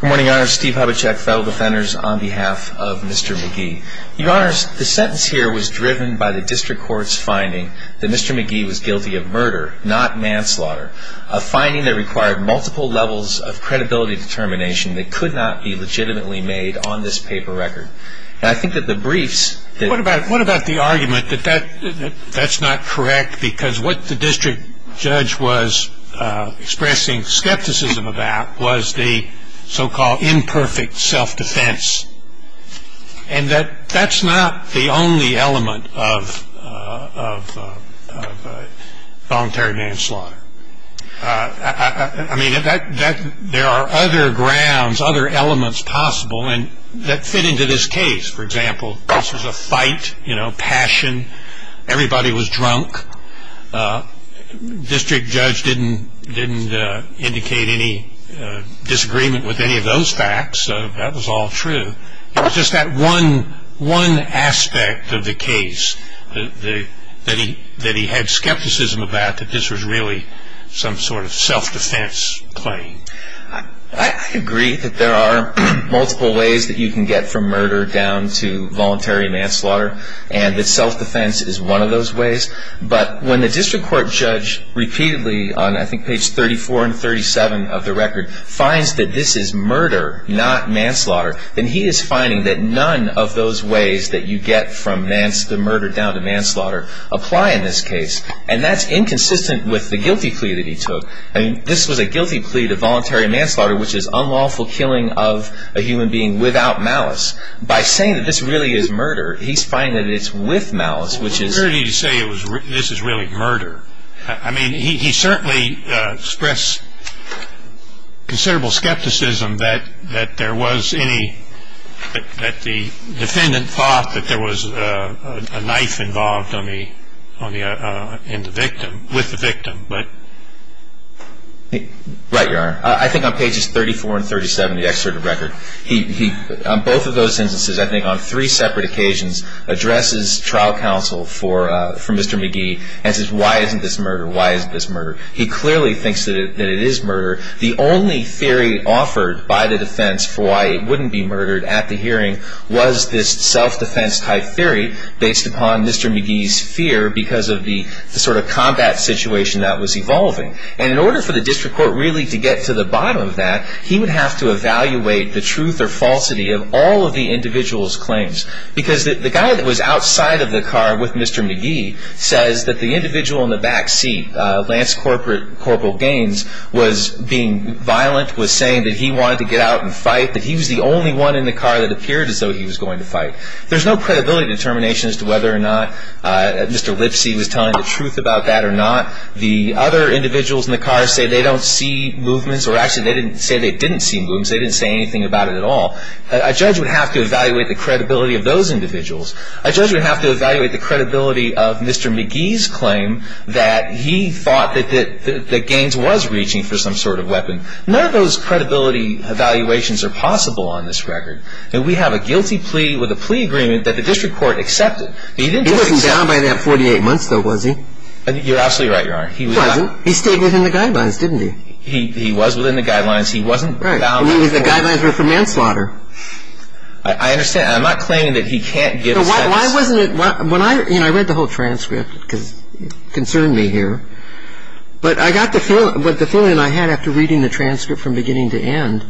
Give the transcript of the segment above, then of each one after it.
Good morning, Your Honor. Steve Hubachek, Federal Defenders, on behalf of Mr. McGee. Your Honor, the sentence here was driven by the district court's finding that Mr. McGee was guilty of murder, not manslaughter. A finding that required multiple levels of credibility determination that could not be legitimately made on this paper record. And I think that the briefs... What about the argument that that's not correct because what the district judge was expressing skepticism about was the so-called imperfect self-defense. And that's not the only element of voluntary manslaughter. I mean, there are other grounds, other elements possible that fit into this case. For example, this was a fight, you know, passion. Everybody was drunk. District judge didn't indicate any disagreement with any of those facts, so that was all true. It was just that one aspect of the case that he had skepticism about, that this was really some sort of self-defense claim. I agree that there are multiple ways that you can get from murder down to voluntary manslaughter. And that self-defense is one of those ways. But when the district court judge repeatedly, on I think page 34 and 37 of the record, finds that this is murder, not manslaughter, then he is finding that none of those ways that you get from the murder down to manslaughter apply in this case. And that's inconsistent with the guilty plea that he took. I mean, this was a guilty plea to voluntary manslaughter, which is unlawful killing of a human being without malice. By saying that this really is murder, he's finding that it's with malice, which is... Well, where did he say this is really murder? I mean, he certainly expressed considerable skepticism that there was any, that the defendant thought that there was a knife involved in the victim, with the victim. Right, Your Honor. I think on pages 34 and 37 of the excerpt of the record, he, on both of those instances, I think on three separate occasions, addresses trial counsel for Mr. McGee and says, why isn't this murder? Why isn't this murder? He clearly thinks that it is murder. The only theory offered by the defense for why it wouldn't be murdered at the hearing was this self-defense type theory based upon Mr. McGee's fear because of the sort of combat situation that was evolving. And in order for the district court really to get to the bottom of that, he would have to evaluate the truth or falsity of all of the individual's claims. Because the guy that was outside of the car with Mr. McGee says that the individual in the back seat, Lance Corporal Gaines, was being violent, was saying that he wanted to get out and fight, that he was the only one in the car that appeared as though he was going to fight. There's no credibility determination as to whether or not Mr. Lipsy was telling the truth about that or not. The other individuals in the car say they don't see movements, or actually they didn't say they didn't see movements. They didn't say anything about it at all. A judge would have to evaluate the credibility of those individuals. A judge would have to evaluate the credibility of Mr. McGee's claim that he thought that Gaines was reaching for some sort of weapon. None of those credibility evaluations are possible on this record. And we have a guilty plea with a plea agreement that the district court accepted. He wasn't down by that 48 months, though, was he? You're absolutely right, Your Honor. He wasn't. He stayed within the guidelines, didn't he? He was within the guidelines. He wasn't down by the 48 months. Right. I mean, the guidelines were for manslaughter. I understand. I'm not claiming that he can't give a sentence. Why wasn't it – when I – you know, I read the whole transcript because it concerned me here. But I got the feeling – what the feeling I had after reading the transcript from beginning to end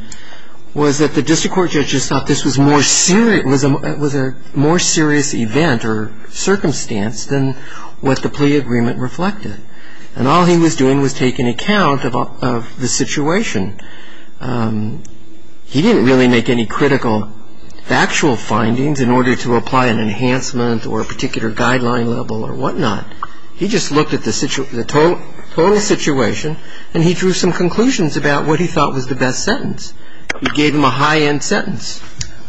was that the district court judges thought this was more serious – And all he was doing was taking account of the situation. He didn't really make any critical factual findings in order to apply an enhancement or a particular guideline level or whatnot. He just looked at the total situation, and he drew some conclusions about what he thought was the best sentence. He gave him a high-end sentence.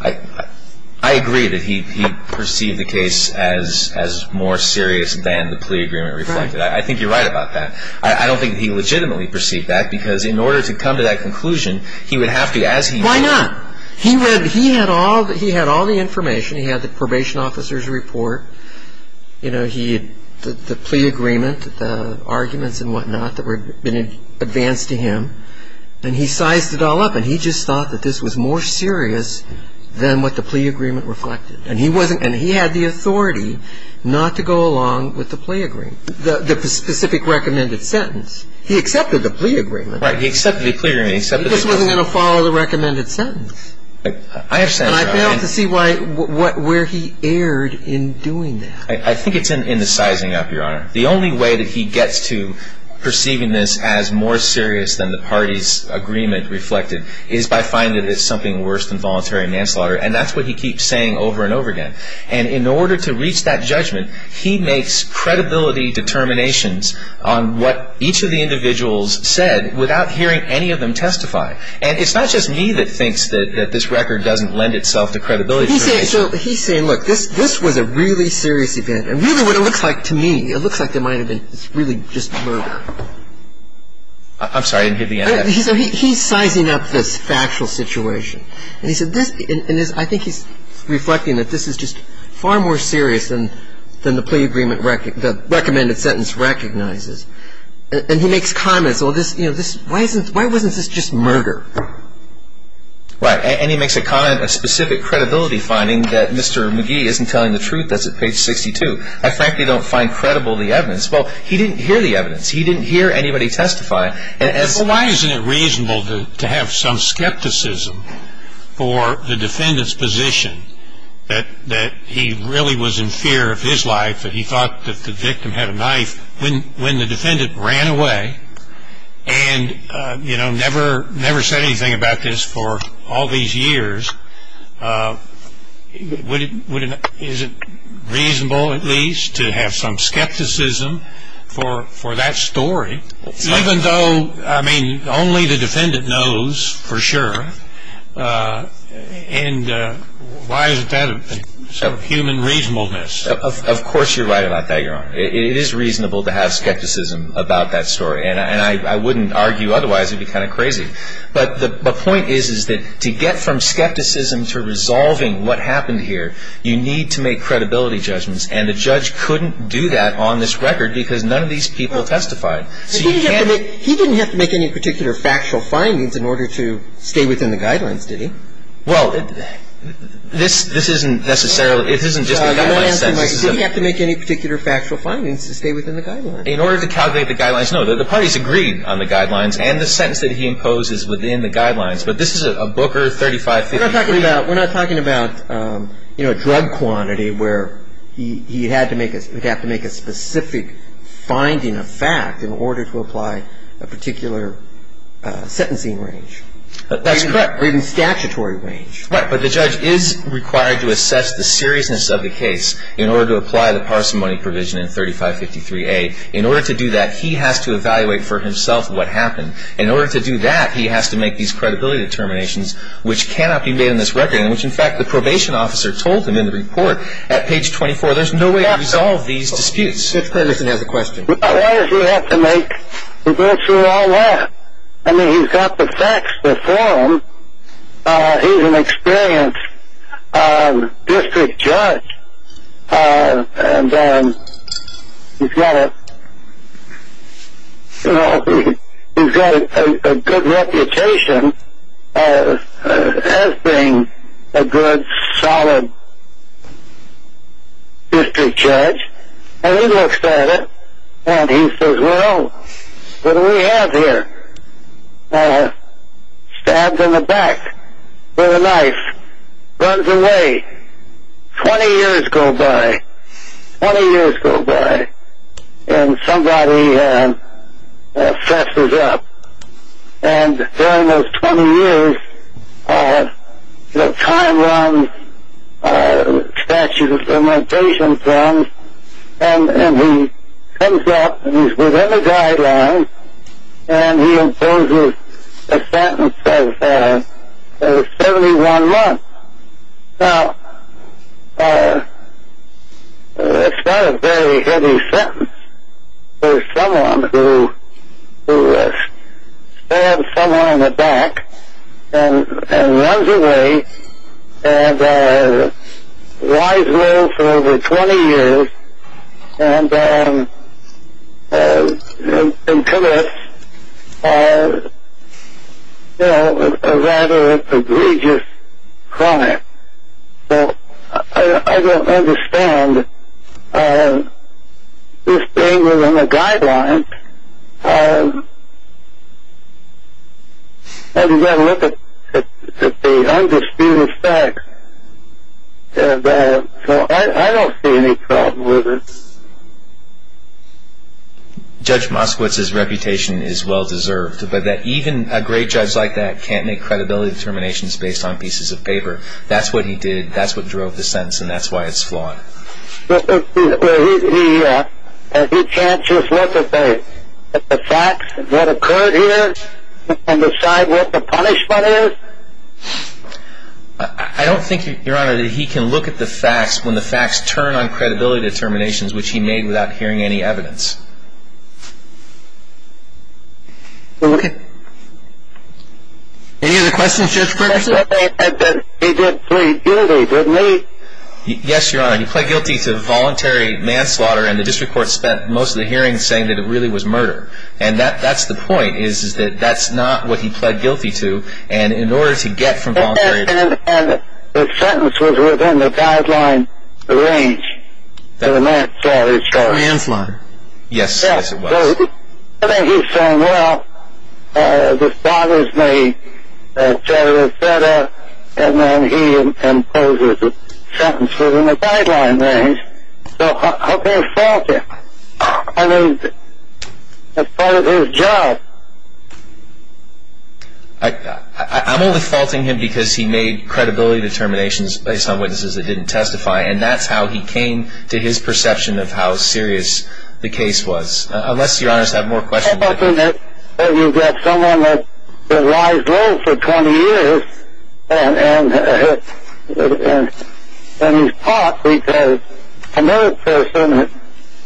I agree that he perceived the case as more serious than the plea agreement reflected. I think you're right about that. I don't think he legitimately perceived that because in order to come to that conclusion, he would have to, as he – Why not? He read – he had all the information. He had the probation officer's report. You know, he – the plea agreement, the arguments and whatnot that had been advanced to him. And he sized it all up, and he just thought that this was more serious than what the plea agreement reflected. And he wasn't – and he had the authority not to go along with the plea agreement, the specific recommended sentence. He accepted the plea agreement. Right. He accepted the plea agreement. He just wasn't going to follow the recommended sentence. I understand. And I failed to see why – where he erred in doing that. I think it's in the sizing up, Your Honor. The only way that he gets to perceiving this as more serious than the party's agreement reflected is by finding that it's something worse than voluntary manslaughter. And that's what he keeps saying over and over again. And in order to reach that judgment, he makes credibility determinations on what each of the individuals said without hearing any of them testify. And it's not just me that thinks that this record doesn't lend itself to credibility determinations. He's saying, look, this was a really serious event. And really what it looks like to me, it looks like it might have been really just murder. I'm sorry. I didn't get the answer. He's sizing up this factual situation. And he said this – and I think he's reflecting that this is just far more serious than the plea agreement – the recommended sentence recognizes. And he makes comments, well, this – you know, this – why isn't – why wasn't this just murder? Right. And he makes a comment, a specific credibility finding that Mr. McGee isn't telling the truth. That's at page 62. I frankly don't find credible the evidence. Well, he didn't hear the evidence. He didn't hear anybody testify. Well, why isn't it reasonable to have some skepticism for the defendant's position that he really was in fear of his life, that he thought that the victim had a knife when the defendant ran away and, you know, never said anything about this for all these years? Would it – is it reasonable at least to have some skepticism for that story? Even though, I mean, only the defendant knows for sure. And why isn't that a sort of human reasonableness? Of course you're right about that, Your Honor. It is reasonable to have skepticism about that story. And I wouldn't argue otherwise. It would be kind of crazy. But the point is, is that to get from skepticism to resolving what happened here, you need to make credibility judgments. And the judge couldn't do that on this record because none of these people testified. So you can't – He didn't have to make any particular factual findings in order to stay within the guidelines, did he? Well, this isn't necessarily – it isn't just a guideline sentence. Did he have to make any particular factual findings to stay within the guidelines? In order to calculate the guidelines, no. The parties agreed on the guidelines and the sentence that he imposes within the guidelines. But this is a Booker 3553. We're not talking about, you know, a drug quantity where he had to make a specific finding of fact in order to apply a particular sentencing range. That's correct. Or even statutory range. Right. But the judge is required to assess the seriousness of the case in order to apply the parsimony provision in 3553A. In order to do that, he has to evaluate for himself what happened. In order to do that, he has to make these credibility determinations, which cannot be made on this record, and which, in fact, the probation officer told him in the report at page 24. There's no way to resolve these disputes. Mr. Richardson has a question. Why did he have to make – he went through all that. I mean, he's got the facts before him. He's an experienced district judge, and he's got a good reputation as being a good, solid district judge. And he looks at it, and he says, well, what do we have here? Stabbed in the back with a knife. Runs away. Twenty years go by. Twenty years go by, and somebody fesses up. And during those 20 years, time runs, statute of limitations runs, and he comes up, and he's within the guidelines, and he imposes a sentence of 71 months. Now, that's not a very heavy sentence for someone who stabs someone in the back and runs away and lies low for over 20 years and commits, you know, a rather egregious crime. Well, I don't understand. This thing was in the guidelines, and you've got to look at the undisputed facts. So I don't see any problem with it. Judge Moskowitz's reputation is well-deserved, but that even a great judge like that can't make credibility determinations based on pieces of paper. That's what he did. That's what drove the sentence, and that's why it's flawed. Well, he can't just look at the facts of what occurred here and decide what the punishment is? I don't think, Your Honor, that he can look at the facts when the facts turn on credibility determinations, which he made without hearing any evidence. Okay. Any other questions, Judge Ferguson? He did plead guilty, didn't he? Yes, Your Honor. He pled guilty to voluntary manslaughter, and the district court spent most of the hearing saying that it really was murder. And that's the point, is that that's not what he pled guilty to. And in order to get from voluntary... And the sentence was within the guideline range for the manslaughter charge. For manslaughter. Yes, yes, it was. So I think he's saying, well, this bothers me, etc., etc., and then he imposes a sentence within the guideline range. So how can he fault him? I mean, that's part of his job. I'm only faulting him because he made credibility determinations based on witnesses that didn't testify, and that's how he came to his perception of how serious the case was. Unless, Your Honors, I have more questions. How about when you've got someone that lies low for 20 years, and he's caught because another person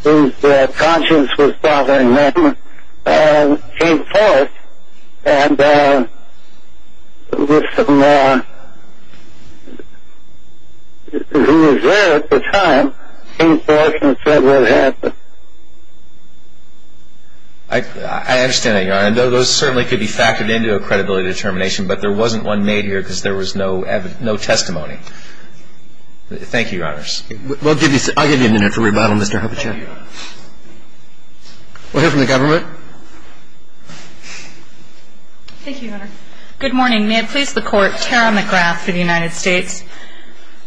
whose conscience was bothering them came forth and with someone who was there at the time, came forth and said what happened? I understand that, Your Honor. Those certainly could be factored into a credibility determination, but there wasn't one made here because there was no testimony. Thank you, Your Honors. I'll give you a minute for rebuttal, Mr. Hubachek. Thank you, Your Honor. We'll hear from the government. Thank you, Your Honor. Good morning. May it please the Court, Tara McGrath for the United States.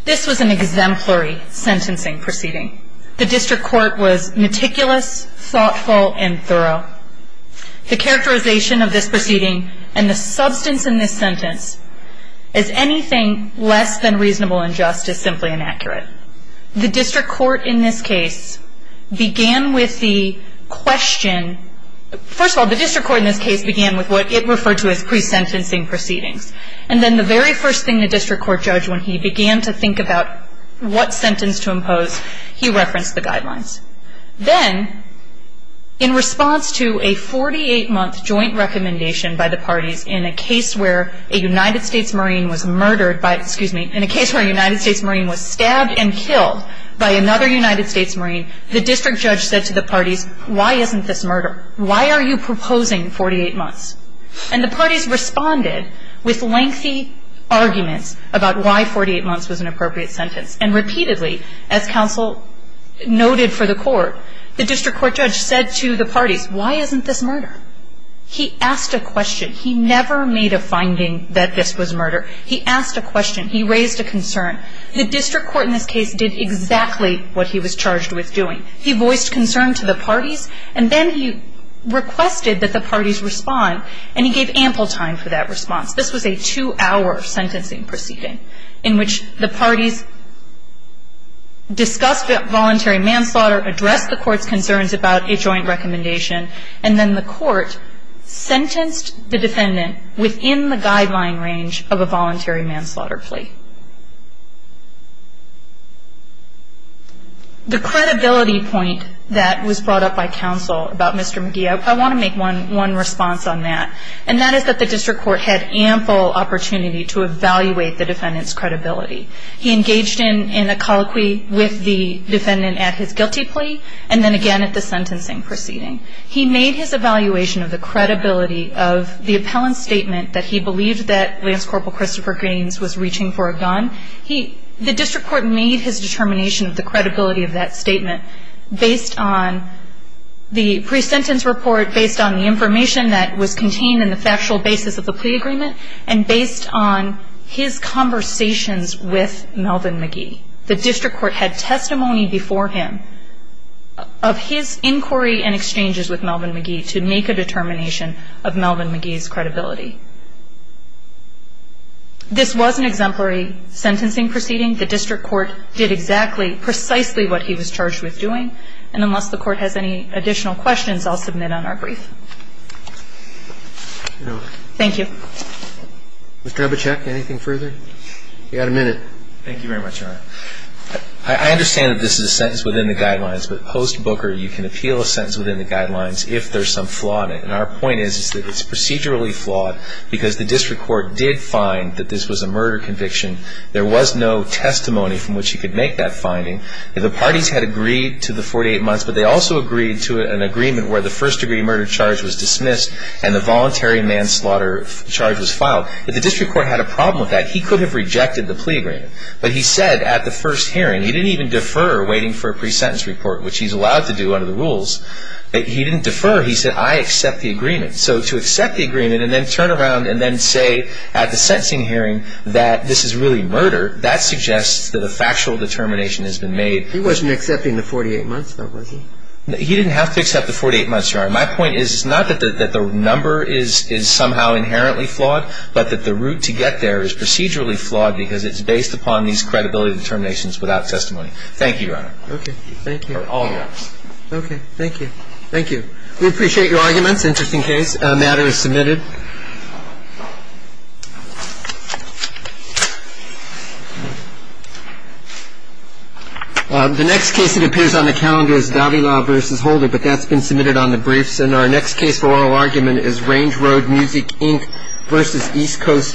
This was an exemplary sentencing proceeding. The district court was meticulous, thoughtful, and thorough. The characterization of this proceeding and the substance in this sentence as anything less than reasonable and just is simply inaccurate. The district court in this case began with the question. First of all, the district court in this case began with what it referred to as pre-sentencing proceedings. And then the very first thing the district court judged when he began to think about what sentence to impose, he referenced the guidelines. Then, in response to a 48-month joint recommendation by the parties in a case where a United States Marine was murdered by, excuse me, in a case where a United States Marine was stabbed and killed by another United States Marine, the district judge said to the parties, why isn't this murder? Why are you proposing 48 months? And the parties responded with lengthy arguments about why 48 months was an appropriate sentence. And repeatedly, as counsel noted for the court, the district court judge said to the parties, why isn't this murder? He asked a question. He never made a finding that this was murder. He asked a question. He raised a concern. The district court in this case did exactly what he was charged with doing. He voiced concern to the parties, and then he requested that the parties respond, and he gave ample time for that response. This was a two-hour sentencing proceeding in which the parties discussed voluntary manslaughter, addressed the court's concerns about a joint recommendation, and then the court sentenced the defendant within the guideline range of a voluntary manslaughter plea. The credibility point that was brought up by counsel about Mr. McGee, I want to make one response on that, and that is that the district court had ample opportunity to evaluate the defendant's credibility. He engaged in a colloquy with the defendant at his guilty plea, and then again at the sentencing proceeding. He made his evaluation of the credibility of the appellant's statement that he believed that Lance Corporal Christopher Gaines was reaching for a gun. The district court made his determination of the credibility of that statement based on the pre-sentence report, based on the information that was contained in the factual basis of the plea agreement, and based on his conversations with Melvin McGee. The district court had testimony before him of his inquiry and exchanges with Melvin McGee to make a determination of Melvin McGee's credibility. This was an exemplary sentencing proceeding. The district court did exactly, precisely what he was charged with doing. And unless the court has any additional questions, I'll submit on our brief. Thank you. Mr. Abachek, anything further? You've got a minute. Thank you very much, Your Honor. I understand that this is a sentence within the guidelines, but post-Booker you can appeal a sentence within the guidelines if there's some flaw in it. And our point is that it's procedurally flawed, because the district court did find that this was a murder conviction. There was no testimony from which he could make that finding. The parties had agreed to the 48 months, but they also agreed to an agreement where the first-degree murder charge was dismissed and the voluntary manslaughter charge was filed. If the district court had a problem with that, he could have rejected the plea agreement. But he said at the first hearing, he didn't even defer waiting for a pre-sentence report, which he's allowed to do under the rules. He didn't defer. He said, I accept the agreement. So to accept the agreement and then turn around and then say at the sentencing hearing that this is really murder, that suggests that a factual determination has been made. He wasn't accepting the 48 months, though, was he? He didn't have to accept the 48 months, Your Honor. My point is not that the number is somehow inherently flawed, but that the route to get there is procedurally flawed because it's based upon these credibility determinations without testimony. Thank you, Your Honor. Okay, thank you. For all of us. Okay, thank you. Thank you. We appreciate your arguments. Interesting case. The matter is submitted. The next case that appears on the calendar is Davila v. Holder, but that's been submitted on the briefs. And our next case for oral argument is Range Road Music, Inc. v. East Coast Foods.